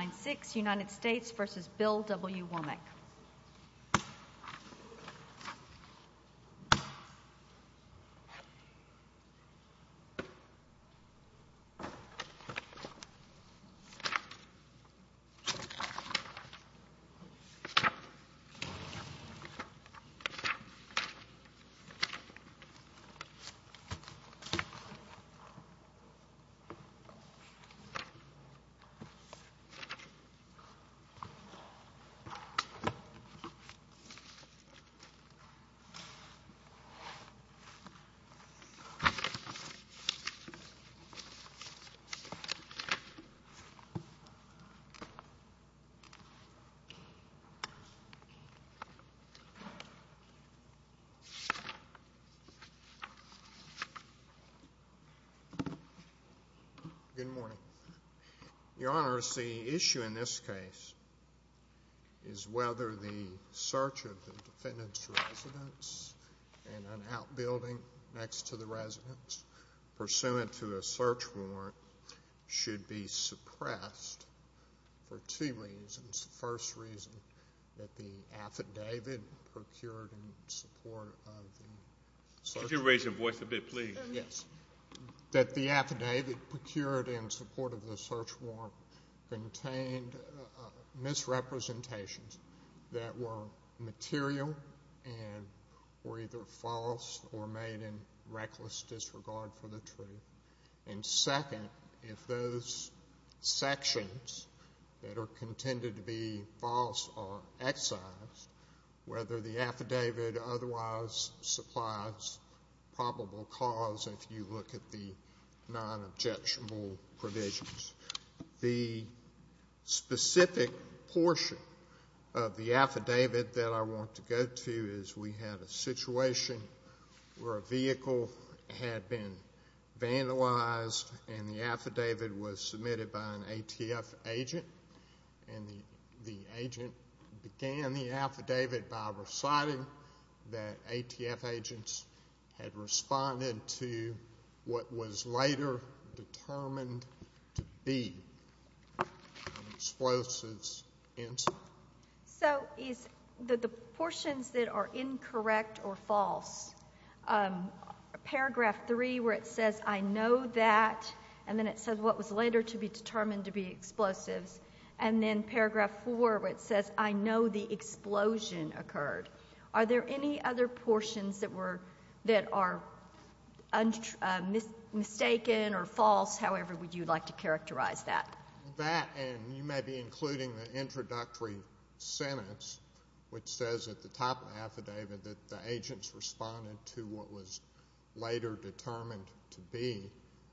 9-6 United States versus Bill W. Womack. Good morning. Your Honor, the issue in this case is whether the search of the defendant's residence in an outbuilding next to the residence pursuant to a search warrant should be suppressed for two reasons. First reason, that the affidavit procured in support of the search warrant. Could you raise your voice a bit, please? Yes. That the affidavit procured in support of the search warrant contained misrepresentations that were material and were either false or made in reckless disregard for the truth. And second, if those sections that are contended to be false are excised, whether the affidavit otherwise supplies probable cause, if you look at the non-objectionable provisions. The specific portion of the affidavit that I want to go to is we had a situation where a vehicle had been vandalized and the affidavit was submitted by an ATF agent and the agent began the affidavit by reciting that ATF agents had responded to what was later determined to be an explosives incident. So is the portions that are incorrect or false, paragraph three where it says, I know that, and then it says what was later to be determined to be explosives, and then paragraph four where it says, I know the explosion occurred. Are there any other portions that are mistaken or false, however you would like to characterize that? That, and you may be including the introductory sentence which says at the top of the affidavit that the agents responded to what was later determined to be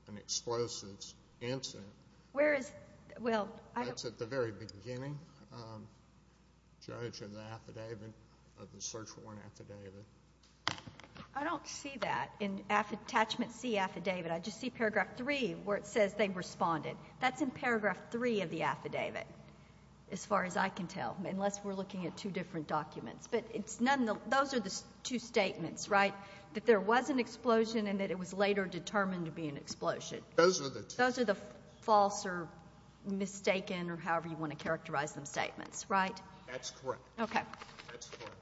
an explosives incident. That's at the very beginning, Judge, of the search warrant affidavit. I don't see that in attachment C affidavit. I just see paragraph three where it says they responded. That's in paragraph three of the affidavit as far as I can tell, unless we're looking at two different documents. But those are the two statements, right? That there was an explosion and that it was later determined to be an explosion. Those are the two. Those are the false or mistaken or however you want to characterize them statements, right? That's correct. Okay. That's correct.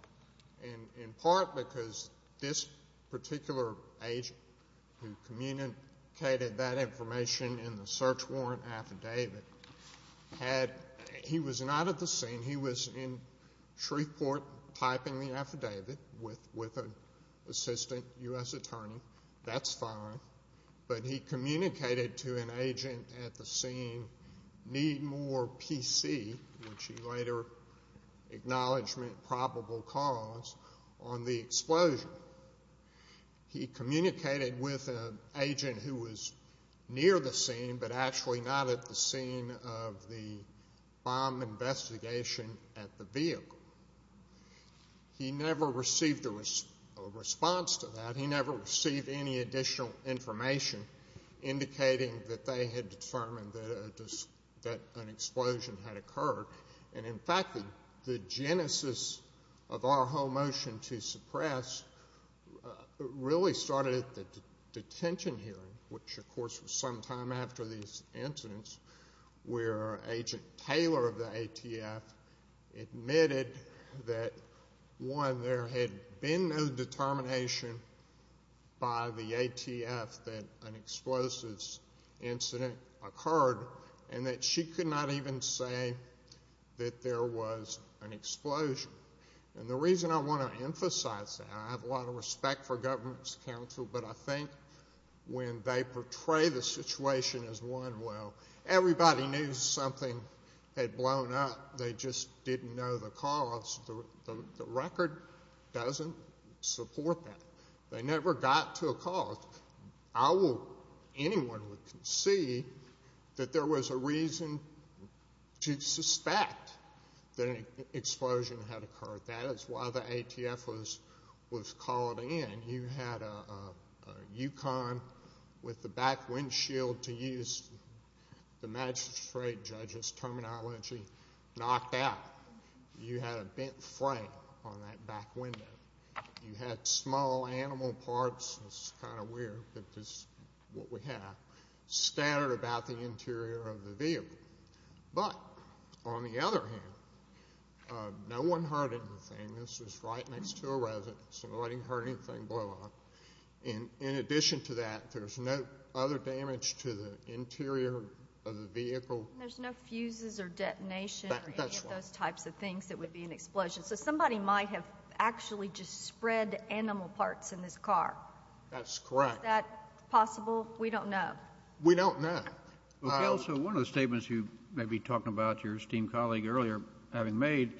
And in part because this particular agent who communicated that information in the search warrant affidavit, he was not at the scene. He was in Shreveport typing the affidavit with an assistant U.S. attorney. That's fine. But he communicated to an agent at the scene, need more PC, which he later acknowledged meant probable cause, on the explosion. He communicated with an agent who was near the scene but actually not at the scene of the bomb investigation at the vehicle. He never received a response to that. He never received any additional information indicating that they had determined that an explosion had occurred. And, in fact, the genesis of our whole motion to suppress really started at the detention hearing, which, of course, was some time after these incidents, where Agent Taylor of the ATF admitted that, one, there had been no determination by the ATF that an explosive incident occurred and that she could not even say that there was an explosion. And the reason I want to emphasize that, and I have a lot of respect for government's counsel, but I think when they portray the situation as one where everybody knew something had blown up, they just didn't know the cause, the record doesn't support that. They never got to a cause. I hope anyone can see that there was a reason to suspect that an explosion had occurred. That is why the ATF was called in. You had a Yukon with the back windshield, to use the magistrate judge's terminology, knocked out. You had a bent frame on that back window. You had small animal parts. It's kind of weird that this is what we have, scattered about the interior of the vehicle. But, on the other hand, no one heard anything. This was right next to a residence. Nobody heard anything blow up. In addition to that, there's no other damage to the interior of the vehicle. There's no fuses or detonation or any of those types of things that would be an explosion. So somebody might have actually just spread animal parts in this car. That's correct. Is that possible? We don't know. We don't know. Okay. Also, one of the statements you may be talking about, your esteemed colleague earlier having made,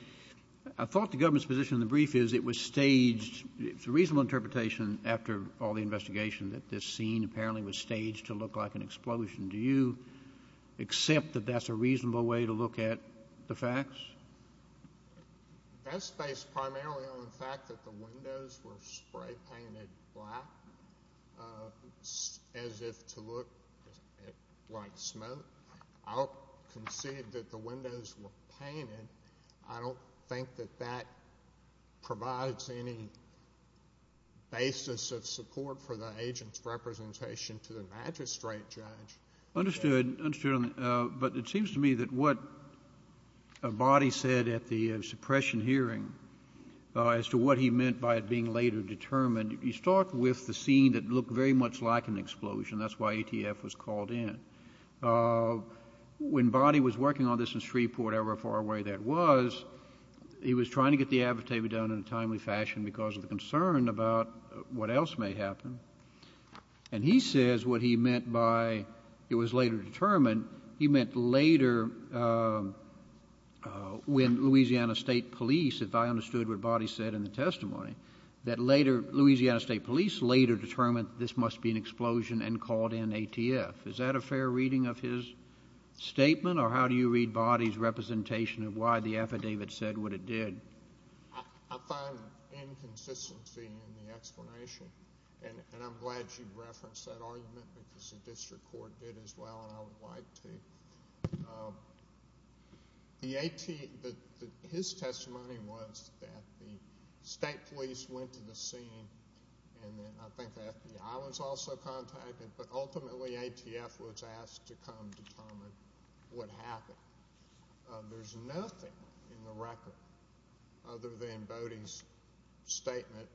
I thought the government's position in the brief is it was staged to reasonable interpretation after all the investigation that this scene apparently was staged to look like an explosion. Do you accept that that's a reasonable way to look at the facts? That's based primarily on the fact that the windows were spray painted black as if to look like smoke. I'll concede that the windows were painted. I don't think that that provides any basis of support for the agent's representation to the magistrate judge. Understood. Understood. But it seems to me that what Boddy said at the suppression hearing as to what he meant by it being later determined, you start with the scene that looked very much like an explosion. That's why ATF was called in. When Boddy was working on this in Shreveport, however far away that was, he was trying to get the advertisement done in a timely fashion because of the concern about what else may happen. And he says what he meant by it was later determined, he meant later when Louisiana State Police, if I understood what Boddy said in the testimony, that later Louisiana State Police later determined this must be an explosion and called in ATF. Is that a fair reading of his statement or how do you read Boddy's representation of why the affidavit said what it did? I find inconsistency in the explanation and I'm glad you referenced that argument because the district court did as well and I would like to. His testimony was that the state police went to the scene and I think the FBI was also contacted, but ultimately ATF was asked to come determine what happened. There's nothing in the record other than Boddy's statement,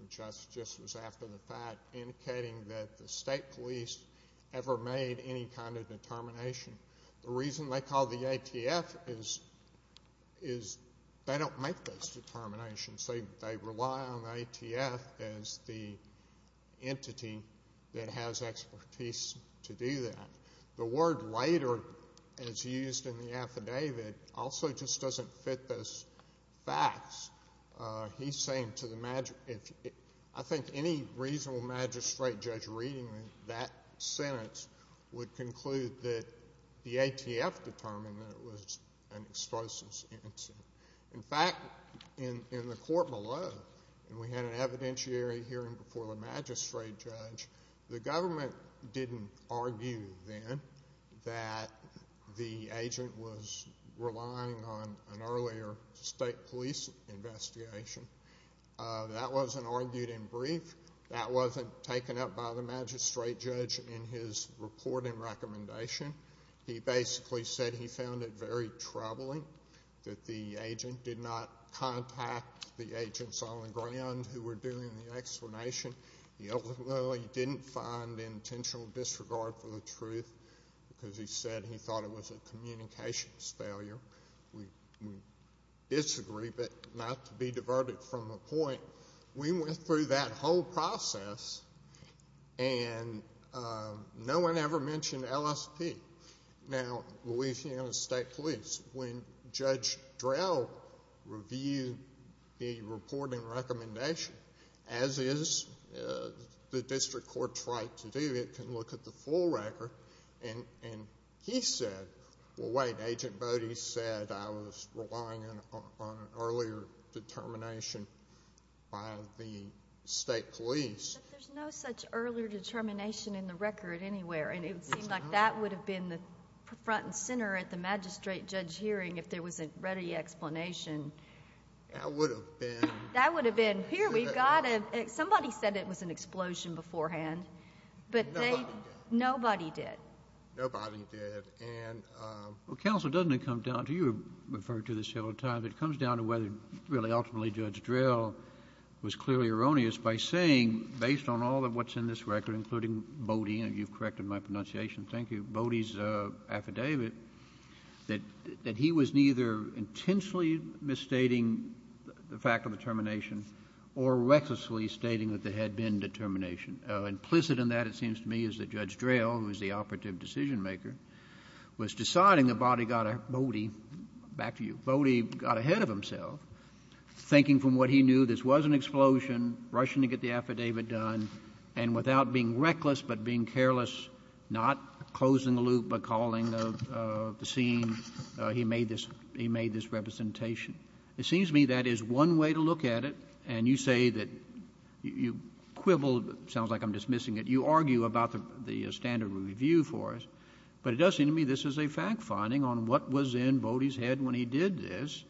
which I suggest was after the fact, indicating that the state police ever made any kind of determination. The reason they call the ATF is they don't make those determinations. They rely on the ATF as the entity that has expertise to do that. The word later, as used in the affidavit, also just doesn't fit those facts. He's saying to the magistrate, I think any reasonable magistrate judge reading that sentence would conclude that the ATF determined that it was an explosive incident. In fact, in the court below, and we had an evidentiary hearing before the magistrate judge, the government didn't argue then that the agent was relying on an earlier state police investigation. That wasn't argued in brief. That wasn't taken up by the magistrate judge in his reporting recommendation. He basically said he found it very troubling that the agent did not contact the agents on the ground who were doing the explanation. He ultimately didn't find intentional disregard for the truth because he said he thought it was a communications failure. We disagree, but not to be diverted from the point, we went through that whole process and no one ever mentioned LSP. Now, Louisiana State Police, when Judge Drell reviewed the reporting recommendation, as is the district court's right to do, it can look at the full record, and he said, well, wait, Agent Bode said I was relying on an earlier determination by the state police. But there's no such earlier determination in the record anywhere, and it would seem like that would have been the front and center at the magistrate judge hearing if there was a ready explanation. That would have been. That would have been, here, we've got it. Somebody said it was an explosion beforehand. Nobody did. Nobody did. Nobody did. Counsel, doesn't it come down to, you referred to this several times, it comes down to whether really ultimately Judge Drell was clearly erroneous by saying, based on all of what's in this record, including Bode, and you've corrected my pronunciation, thank you, Bode's affidavit, that he was neither intensely misstating the fact of the termination or recklessly stating that there had been determination. Implicit in that, it seems to me, is that Judge Drell, who is the operative decision maker, was deciding that Bode got ahead of himself, thinking from what he knew, this was an explosion, rushing to get the affidavit done, and without being reckless but being careless, not closing the loop but calling the scene, he made this representation. It seems to me that is one way to look at it, and you say that you quibble. It sounds like I'm dismissing it. You argue about the standard review for us. But it does seem to me this is a fact-finding on what was in Bode's head when he did this,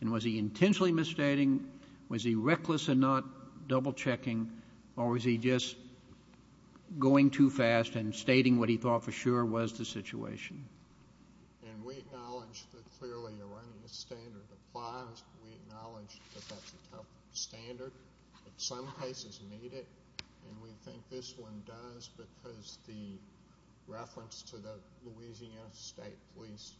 and was he intentionally misstating? Was he reckless and not double-checking, or was he just going too fast and stating what he thought for sure was the situation? And we acknowledge that clearly erroneous standard applies. We acknowledge that that's a tough standard. Some cases meet it, and we think this one does because the reference to the Louisiana State Police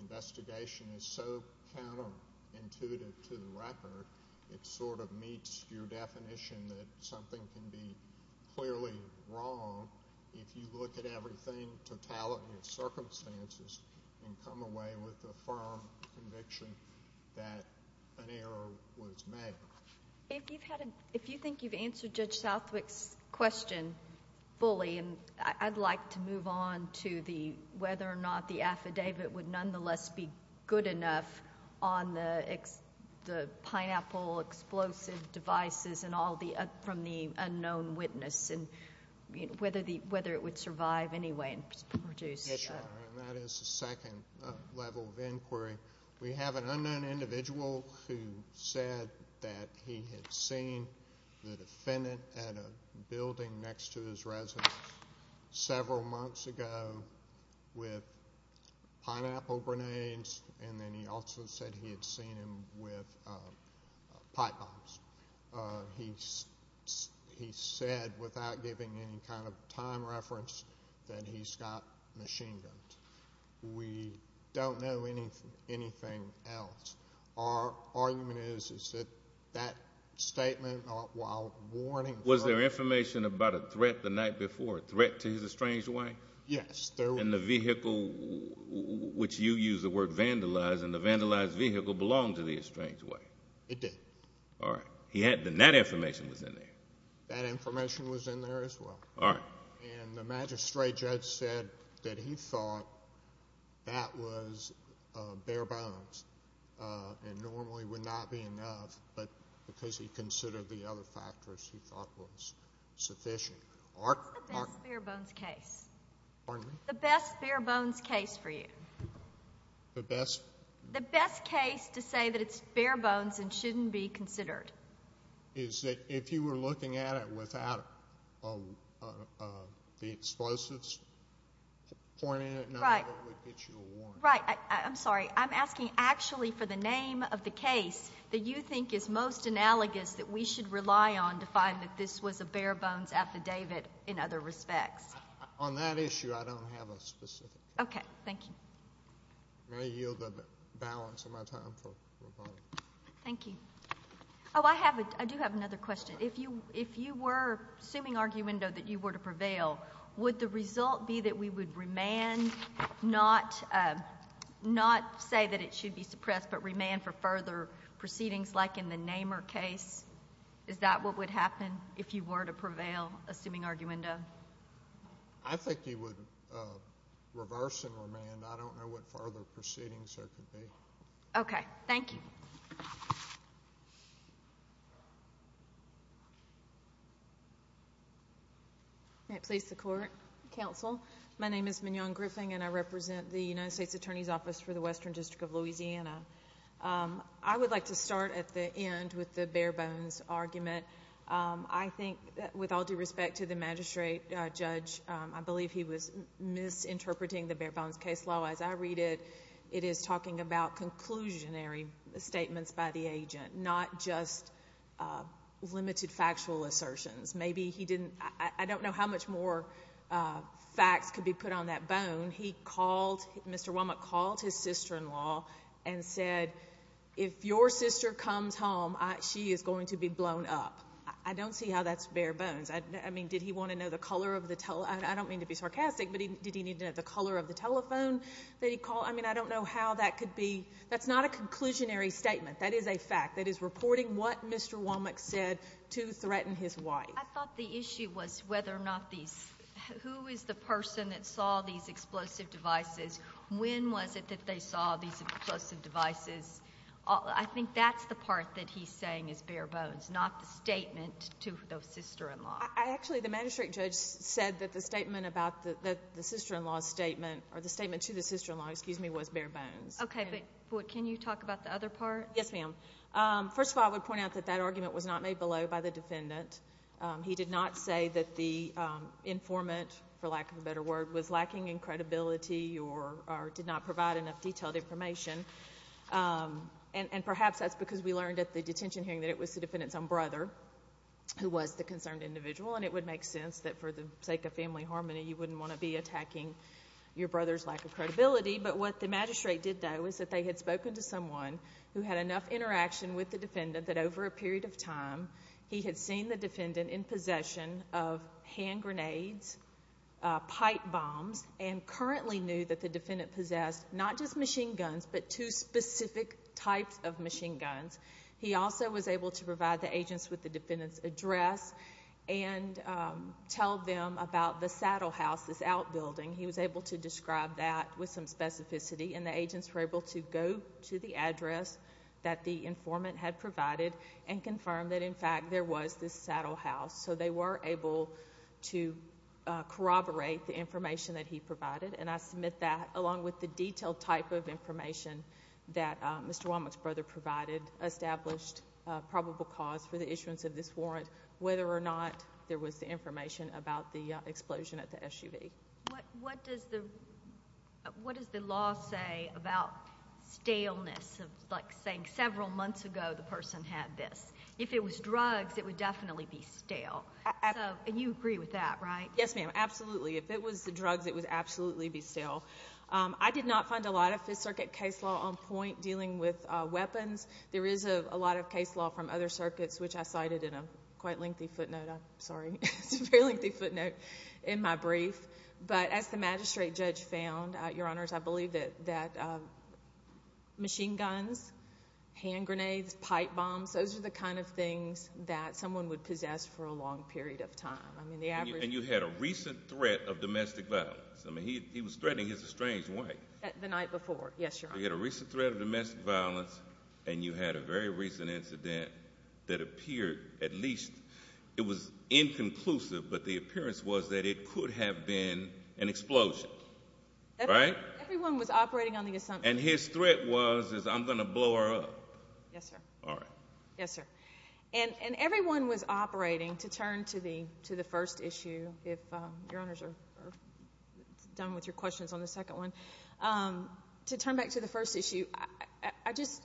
investigation is so counterintuitive to the record. It sort of meets your definition that something can be clearly wrong if you look at everything, totality of circumstances, and come away with a firm conviction that an error was made. If you think you've answered Judge Southwick's question fully, and I'd like to move on to the whether or not the affidavit would nonetheless be good enough on the pineapple explosive devices and all from the unknown witness, and whether it would survive anyway. That is the second level of inquiry. We have an unknown individual who said that he had seen the defendant at a building next to his residence several months ago with pineapple grenades, and then he also said he had seen him with pipe bombs. He said, without giving any kind of time reference, that he's got machine guns. We don't know anything else. Our argument is that that statement, while warnings are- Threat to his estranged wife? Yes. And the vehicle, which you use the word vandalized, and the vandalized vehicle belonged to the estranged wife? It did. All right. Then that information was in there. That information was in there as well. All right. And the magistrate judge said that he thought that was bare bones, and normally would not be enough, but because he considered the other factors, he thought was sufficient. What's the best bare bones case? Pardon me? The best bare bones case for you. The best? The best case to say that it's bare bones and shouldn't be considered. Is that if you were looking at it without the explosives pointed at it, none of it would get you a warrant? Right. I'm sorry. I'm asking actually for the name of the case that you think is most analogous that we should rely on to find that this was a bare bones affidavit in other respects. On that issue, I don't have a specific. Okay. Thank you. May I yield the balance of my time for a moment? Thank you. Oh, I do have another question. If you were assuming arguendo that you were to prevail, would the result be that we would remand, not say that it should be suppressed, but remand for further proceedings like in the Namor case? Is that what would happen if you were to prevail, assuming arguendo? I think you would reverse and remand. I don't know what further proceedings there could be. Okay. Thank you. May it please the Court. Counsel. My name is Mignon Griffin, and I represent the United States Attorney's Office for the Western District of Louisiana. I would like to start at the end with the bare bones argument. I think that with all due respect to the magistrate judge, I believe he was misinterpreting the bare bones case law. As I read it, it is talking about conclusionary statements by the agent, not just limited factual assertions. I don't know how much more facts could be put on that bone. Mr. Womack called his sister-in-law and said, if your sister comes home, she is going to be blown up. I don't see how that's bare bones. I mean, did he want to know the color of the telephone? I don't mean to be sarcastic, but did he need to know the color of the telephone that he called? I mean, I don't know how that could be. That's not a conclusionary statement. That is a fact. That is reporting what Mr. Womack said to threaten his wife. I thought the issue was whether or not these – who is the person that saw these explosive devices? When was it that they saw these explosive devices? I think that's the part that he's saying is bare bones, not the statement to the sister-in-law. Actually, the magistrate judge said that the statement about the sister-in-law's statement or the statement to the sister-in-law, excuse me, was bare bones. Okay, but can you talk about the other part? Yes, ma'am. First of all, I would point out that that argument was not made below by the defendant. He did not say that the informant, for lack of a better word, was lacking in credibility or did not provide enough detailed information. And perhaps that's because we learned at the detention hearing that it was the defendant's own brother who was the concerned individual, and it would make sense that for the sake of family harmony, you wouldn't want to be attacking your brother's lack of credibility. But what the magistrate did, though, is that they had spoken to someone who had enough interaction with the defendant that over a period of time he had seen the defendant in possession of hand grenades, pipe bombs, and currently knew that the defendant possessed not just machine guns but two specific types of machine guns. He also was able to provide the agents with the defendant's address and tell them about the saddle house, this outbuilding. He was able to describe that with some specificity, and the agents were able to go to the address that the informant had provided and confirm that, in fact, there was this saddle house. So they were able to corroborate the information that he provided, and I submit that along with the detailed type of information that Mr. Womack's brother provided established probable cause for the issuance of this warrant, whether or not there was the information about the explosion at the SUV. What does the law say about staleness, like saying several months ago the person had this? If it was drugs, it would definitely be stale. And you agree with that, right? Yes, ma'am, absolutely. If it was the drugs, it would absolutely be stale. I did not find a lot of Fifth Circuit case law on point dealing with weapons. There is a lot of case law from other circuits, which I cited in a quite lengthy footnote. Sorry, it's a very lengthy footnote in my brief. But as the magistrate judge found, Your Honors, I believe that machine guns, hand grenades, pipe bombs, those are the kind of things that someone would possess for a long period of time. And you had a recent threat of domestic violence. I mean, he was threatening his estranged wife. The night before, yes, Your Honor. You had a recent threat of domestic violence, and you had a very recent incident that appeared at least it was inconclusive, but the appearance was that it could have been an explosion, right? Everyone was operating on the assumption. And his threat was, is I'm going to blow her up. Yes, sir. All right. Yes, sir. And everyone was operating. To turn to the first issue, if Your Honors are done with your questions on the second one, to turn back to the first issue, I just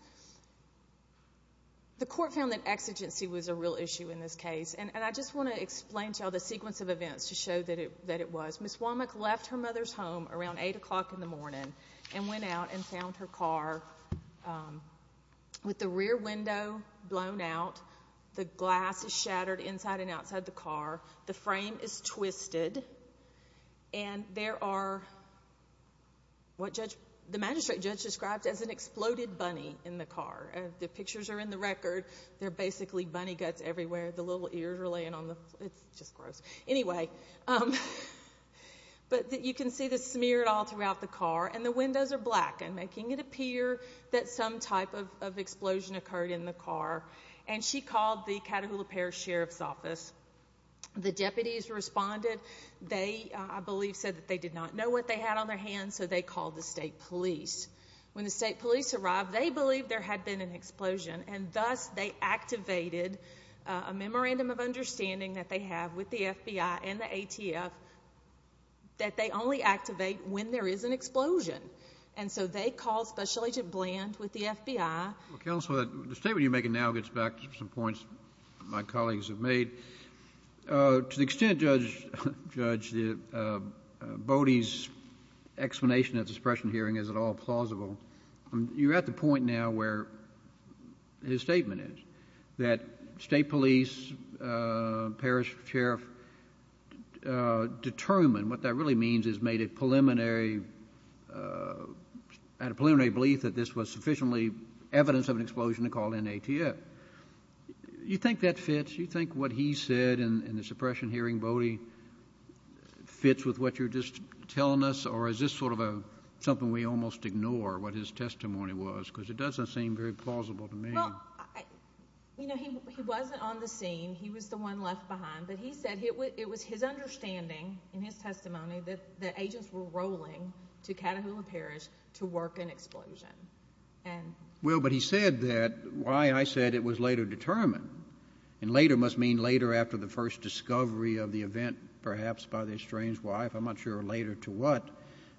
the court found that exigency was a real issue in this case. And I just want to explain to you all the sequence of events to show that it was. Ms. Womack left her mother's home around 8 o'clock in the morning and went out and found her car with the rear window blown out. The glass is shattered inside and outside the car. The frame is twisted. And there are what the magistrate judge described as an exploded bunny in the car. The pictures are in the record. There are basically bunny guts everywhere. The little ears are laying on the floor. It's just gross. Anyway, but you can see the smear all throughout the car, and the windows are black and making it appear that some type of explosion occurred in the car. And she called the Catahoula Parish Sheriff's Office. The deputies responded. They, I believe, said that they did not know what they had on their hands, so they called the state police. And thus they activated a memorandum of understanding that they have with the FBI and the ATF that they only activate when there is an explosion. And so they called Special Agent Bland with the FBI. Counsel, the statement you're making now gets back to some points my colleagues have made. To the extent, Judge, that Bodie's explanation at the suppression hearing is at all plausible, you're at the point now where his statement is, that state police, parish sheriff, determined, what that really means is made a preliminary belief that this was sufficiently evidence of an explosion to call in the ATF. You think that fits? Do you think what he said in the suppression hearing, Bodie, fits with what you're just telling us, or is this sort of something we almost ignore, what his testimony was? Because it doesn't seem very plausible to me. Well, you know, he wasn't on the scene. He was the one left behind. But he said it was his understanding in his testimony that agents were rolling to Catahoula Parish to work an explosion. Well, but he said that why I said it was later determined, and later must mean later after the first discovery of the event perhaps by the estranged wife. I'm not sure later to what.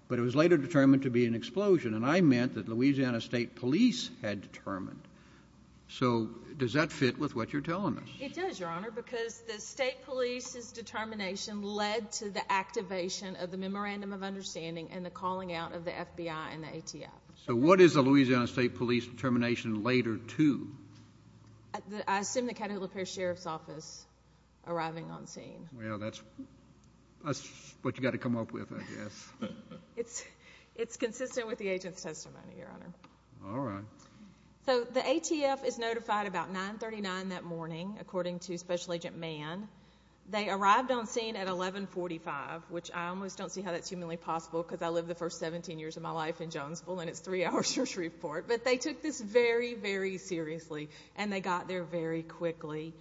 But it was later determined to be an explosion, and I meant that Louisiana State Police had determined. So does that fit with what you're telling us? It does, Your Honor, because the state police's determination led to the activation of the memorandum of understanding and the calling out of the FBI and the ATF. So what is the Louisiana State Police determination later to? I assume the Catahoula Parish Sheriff's Office arriving on scene. Well, that's what you've got to come up with, I guess. It's consistent with the agent's testimony, Your Honor. All right. So the ATF is notified about 9.39 that morning, according to Special Agent Mann. They arrived on scene at 11.45, which I almost don't see how that's humanly possible because I lived the first 17 years of my life in Jonesville, and it's three hours from Shreveport. But they took this very, very seriously, and they got there very quickly.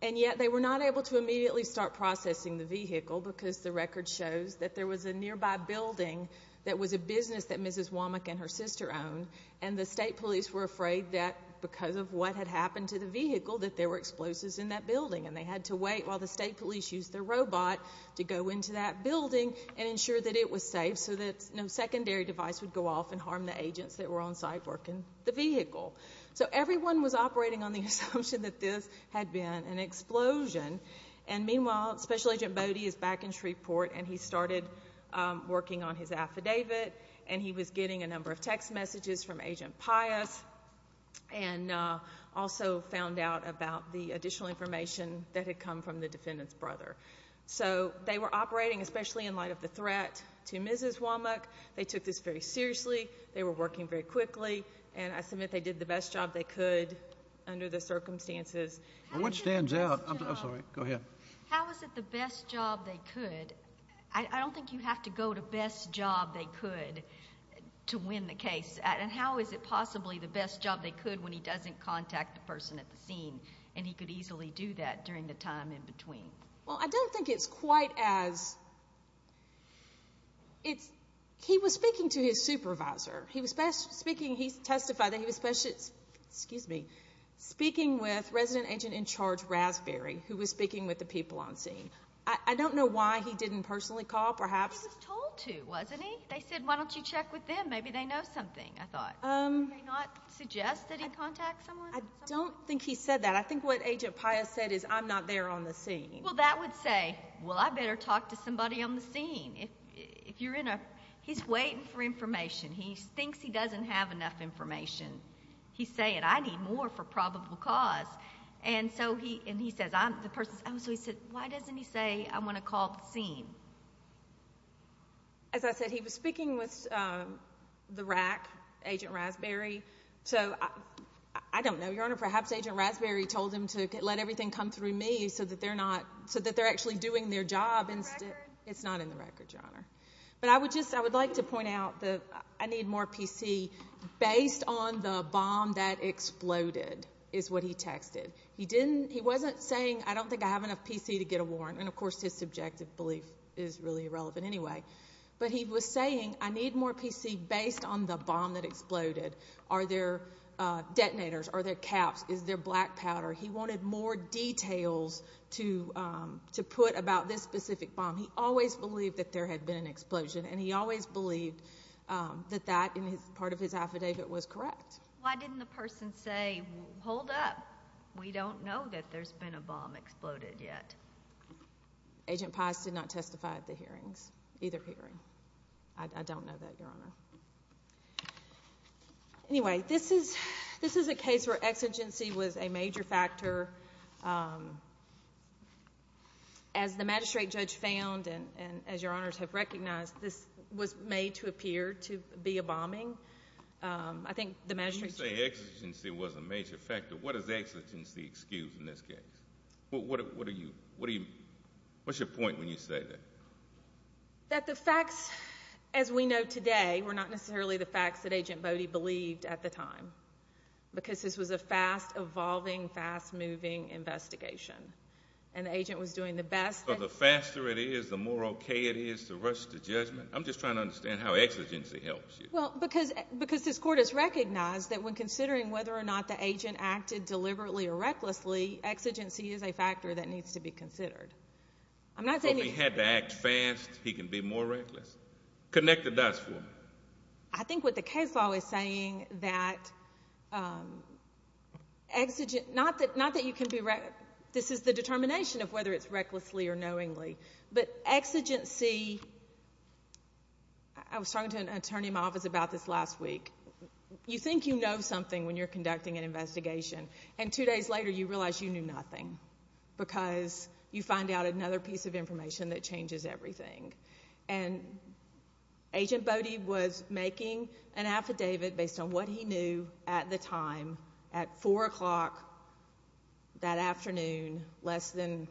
And yet they were not able to immediately start processing the vehicle because the record shows that there was a nearby building that was a business that Mrs. Womack and her sister owned, and the state police were afraid that because of what had happened to the vehicle that there were explosives in that building, and they had to wait while the state police used their robot to go into that building and ensure that it was safe so that no secondary device would go off and harm the agents that were on site working the vehicle. So everyone was operating on the assumption that this had been an explosion, and meanwhile Special Agent Bodie is back in Shreveport, and he started working on his affidavit, and he was getting a number of text messages from Agent Pius and also found out about the additional information that had come from the defendant's brother. So they were operating, especially in light of the threat to Mrs. Womack, they took this very seriously, they were working very quickly, and I submit they did the best job they could under the circumstances. What stands out? I'm sorry. Go ahead. How is it the best job they could? I don't think you have to go to best job they could to win the case. And how is it possibly the best job they could when he doesn't contact the person at the scene and he could easily do that during the time in between? Well, I don't think it's quite as... He was speaking to his supervisor. He testified that he was speaking with Resident Agent in Charge Raspberry, who was speaking with the people on scene. I don't know why he didn't personally call, perhaps. He was told to, wasn't he? They said, why don't you check with them, maybe they know something, I thought. Did he not suggest that he contact someone? I don't think he said that. I think what Agent Pius said is, I'm not there on the scene. Well, that would say, well, I better talk to somebody on the scene. He's waiting for information. He thinks he doesn't have enough information. He's saying, I need more for probable cause. And he says, I'm the person... So he said, why doesn't he say, I want to call the scene? As I said, he was speaking with the RAC, Agent Raspberry. So I don't know, Your Honor. Perhaps Agent Raspberry told him to let everything come through me so that they're actually doing their job. Is that in the record? It's not in the record, Your Honor. But I would like to point out that I need more PC. Based on the bomb that exploded is what he texted. He wasn't saying, I don't think I have enough PC to get a warrant. And, of course, his subjective belief is really irrelevant anyway. But he was saying, I need more PC based on the bomb that exploded. Are there detonators? Are there caps? Is there black powder? He wanted more details to put about this specific bomb. He always believed that there had been an explosion. And he always believed that that, in part of his affidavit, was correct. Why didn't the person say, hold up. We don't know that there's been a bomb exploded yet. Agent Pice did not testify at the hearings, either hearing. I don't know that, Your Honor. Anyway, this is a case where exigency was a major factor. As the magistrate judge found and as Your Honors have recognized, this was made to appear to be a bombing. When you say exigency was a major factor, what does exigency excuse in this case? What's your point when you say that? That the facts, as we know today, were not necessarily the facts that Agent Bode believed at the time. Because this was a fast evolving, fast moving investigation. And the agent was doing the best. The faster it is, the more okay it is to rush to judgment. I'm just trying to understand how exigency helps you. Because this court has recognized that when considering whether or not the agent acted deliberately or recklessly, exigency is a factor that needs to be considered. So if he had to act fast, he can be more reckless? Connect the dots for me. I think what the case law is saying that exigency, not that you can be reckless. This is the determination of whether it's recklessly or knowingly. But exigency, I was talking to an attorney in my office about this last week. You think you know something when you're conducting an investigation, and two days later you realize you knew nothing because you find out another piece of information that changes everything. And Agent Bode was making an affidavit based on what he knew at the time at 4 o'clock that afternoon, less than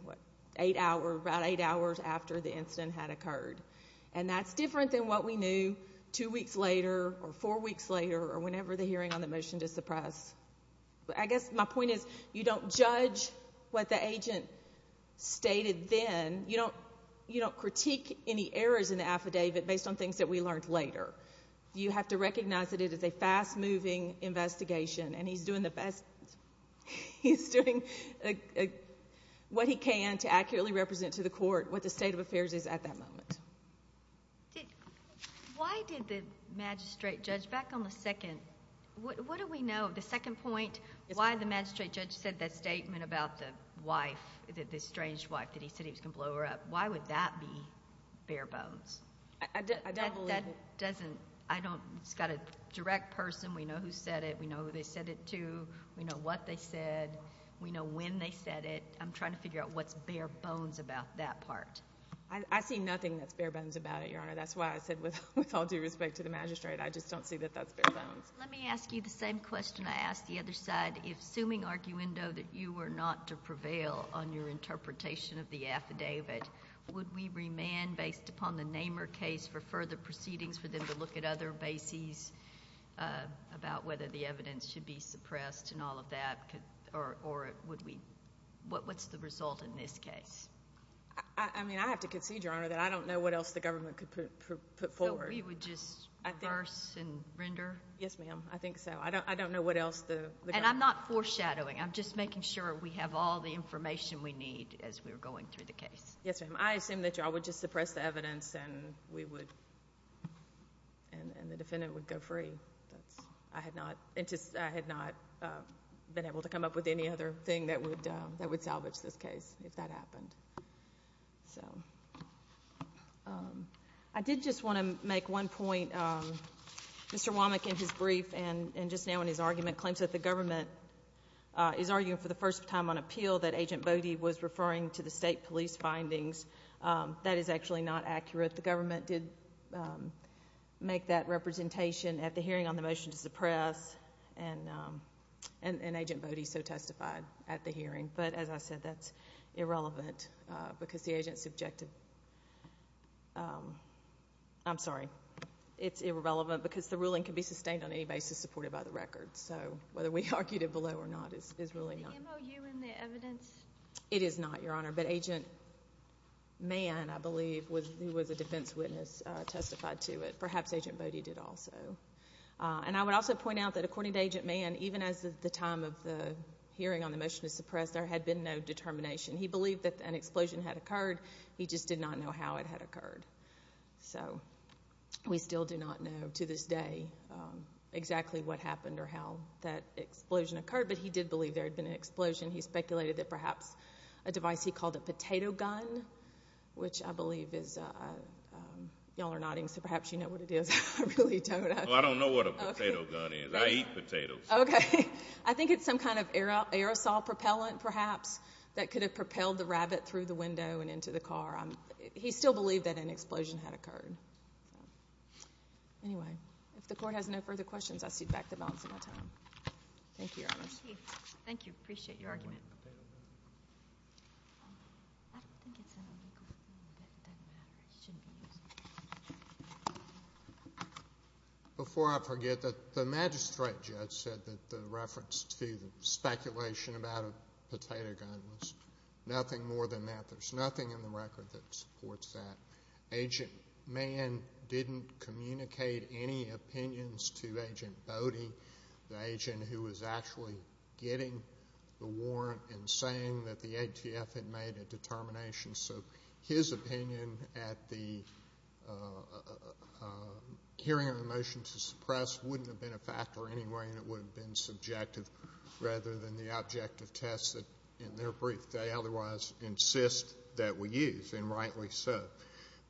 eight hours, about eight hours after the incident had occurred. And that's different than what we knew two weeks later or four weeks later or whenever the hearing on the motion to suppress. I guess my point is you don't judge what the agent stated then. You don't critique any errors in the affidavit based on things that we learned later. You have to recognize that it is a fast-moving investigation, and he's doing what he can to accurately represent to the court what the state of affairs is at that moment. Why did the magistrate judge back on the second? What do we know? The second point, why the magistrate judge said that statement about the wife, the estranged wife, that he said he was going to blow her up. Why would that be bare bones? I don't believe it. That doesn't, I don't, it's got a direct person. We know who said it. We know who they said it to. We know what they said. We know when they said it. I'm trying to figure out what's bare bones about that part. I see nothing that's bare bones about it, Your Honor. That's why I said with all due respect to the magistrate, I just don't see that that's bare bones. Let me ask you the same question I asked the other side. Assuming, Arguendo, that you were not to prevail on your interpretation of the affidavit, would we remand based upon the Namer case for further proceedings for them to look at other bases about whether the evidence should be suppressed and all of that, or would we, what's the result in this case? I mean, I have to concede, Your Honor, that I don't know what else the government could put forward. We would just reverse and render? Yes, ma'am. I think so. I don't know what else the government... And I'm not foreshadowing. I'm just making sure we have all the information we need as we're going through the case. Yes, ma'am. I assume that you all would just suppress the evidence and we would, and the defendant would go free. I had not been able to come up with any other thing that would salvage this case if that happened. So, I did just want to make one point. Mr. Womack in his brief and just now in his argument claims that the government is arguing for the first time on appeal that Agent Bode was referring to the state police findings. That is actually not accurate. The government did make that representation at the hearing on the motion to suppress, and Agent Bode so testified at the hearing. But, as I said, that's irrelevant because the agent's objective... I'm sorry. It's irrelevant because the ruling can be sustained on any basis supported by the record. So, whether we argued it below or not is really not... The MOU and the evidence... It is not, Your Honor, but Agent Mann, I believe, who was a defense witness, testified to it. Perhaps Agent Bode did also. And, I would also point out that, according to Agent Mann, even as the time of the hearing on the motion to suppress, there had been no determination. He believed that an explosion had occurred. He just did not know how it had occurred. So, we still do not know to this day exactly what happened or how that explosion occurred, but he did believe there had been an explosion. He speculated that perhaps a device he called a potato gun, which I believe is... Well, I don't know what a potato gun is. I eat potatoes. Okay. I think it's some kind of aerosol propellant, perhaps, that could have propelled the rabbit through the window and into the car. He still believed that an explosion had occurred. Anyway, if the Court has no further questions, I cede back the balance of my time. Thank you, Your Honor. Thank you. Appreciate your argument. I don't think it's an illegal weapon, but it doesn't matter. It shouldn't be used. Before I forget, the magistrate judge said that the reference to the speculation about a potato gun was nothing more than that. There's nothing in the record that supports that. Agent Mann didn't communicate any opinions to Agent Bodie, the agent who was actually getting the warrant and saying that the ATF had made a determination. So his opinion at the hearing on the motion to suppress wouldn't have been a factor anyway and it would have been subjective rather than the objective test that, in their brief, they otherwise insist that we use, and rightly so.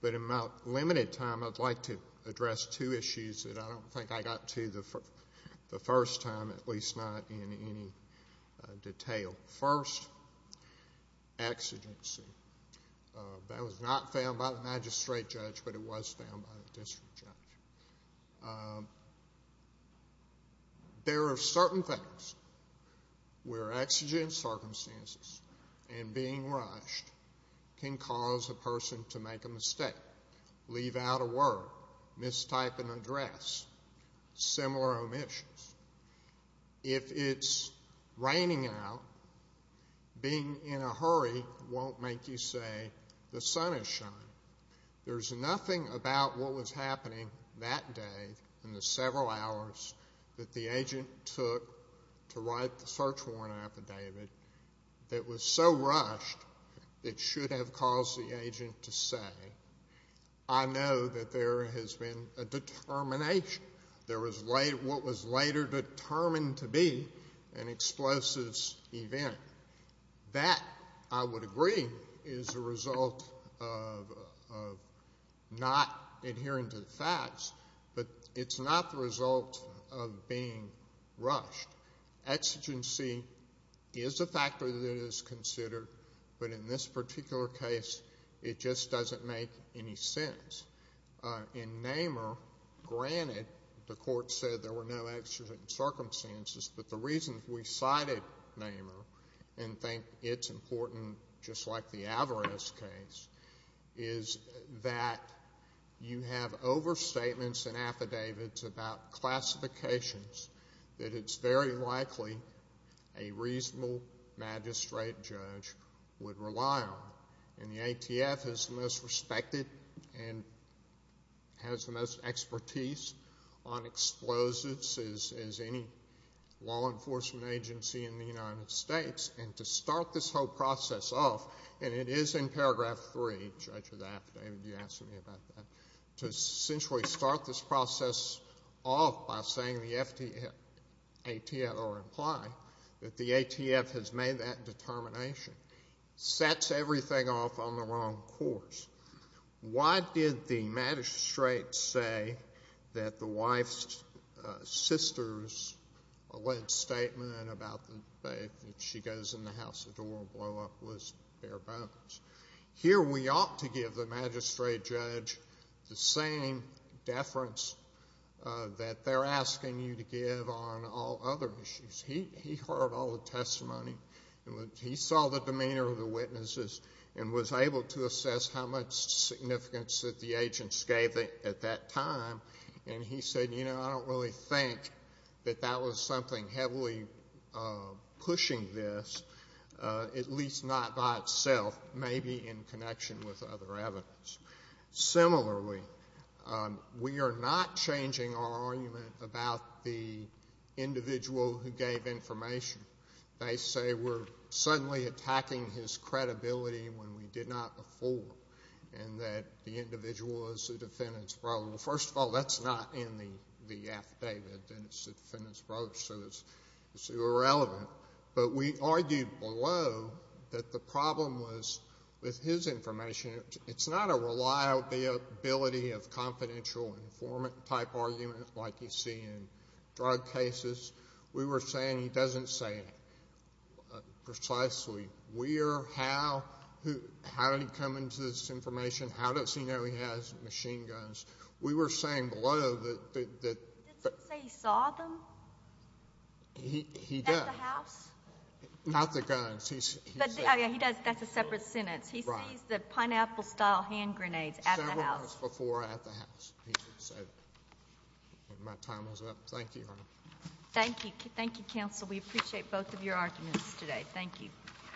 But in my limited time, I'd like to address two issues that I don't think I got to the first time, at least not in any detail. First, exigency. That was not found by the magistrate judge, but it was found by the district judge. There are certain things where exigent circumstances and being rushed can cause a person to make a mistake, leave out a word, mistype an address, similar omissions. If it's raining out, being in a hurry won't make you say the sun is shining. There's nothing about what was happening that day in the several hours that the agent took to write the search warrant affidavit that was so rushed it should have caused the agent to say, I know that there has been a determination. There was what was later determined to be an explosive event. That, I would agree, is a result of not adhering to the facts, but it's not the result of being rushed. Exigency is a factor that is considered, but in this particular case, it just doesn't make any sense. In Namer, granted, the court said there were no exigent circumstances, but the reason we cited Namer and think it's important, just like the Averez case, is that you have overstatements and affidavits about classifications that it's very likely a reasonable magistrate judge would rely on. And the ATF is the most respected and has the most expertise on explosives as any law enforcement agency in the United States. And to start this whole process off, and it is in Paragraph 3, Judge of the Affidavit, you asked me about that, to essentially start this process off by saying the ATF, or imply that the ATF has made that determination, sets everything off on the wrong course. Why did the magistrate say that the wife's sister's alleged statement about the day that she goes in the house of Dora blew up was bare bones? Here we ought to give the magistrate judge the same deference that they're asking you to give on all other issues. He heard all the testimony. He saw the demeanor of the witnesses and was able to assess how much significance that the agents gave at that time. And he said, you know, I don't really think that that was something heavily pushing this, at least not by itself, maybe in connection with other evidence. Similarly, we are not changing our argument about the individual who gave information. They say we're suddenly attacking his credibility when we did not before, and that the individual is the defendant's brother. Well, first of all, that's not in the affidavit, that it's the defendant's brother, so it's irrelevant. But we argued below that the problem was with his information, it's not a reliability of confidential informant-type argument like you see in drug cases. We were saying he doesn't say it precisely. We are how did he come into this information? How does he know he has machine guns? We were saying below that the ---- He didn't say he saw them? He did. At the house? Not the guns. Oh, yeah, he does. That's a separate sentence. He sees the pineapple-style hand grenades at the house. Several months before at the house, he said. My time is up. Thank you, Your Honor. Thank you. Thank you, counsel. We appreciate both of your arguments today. Thank you.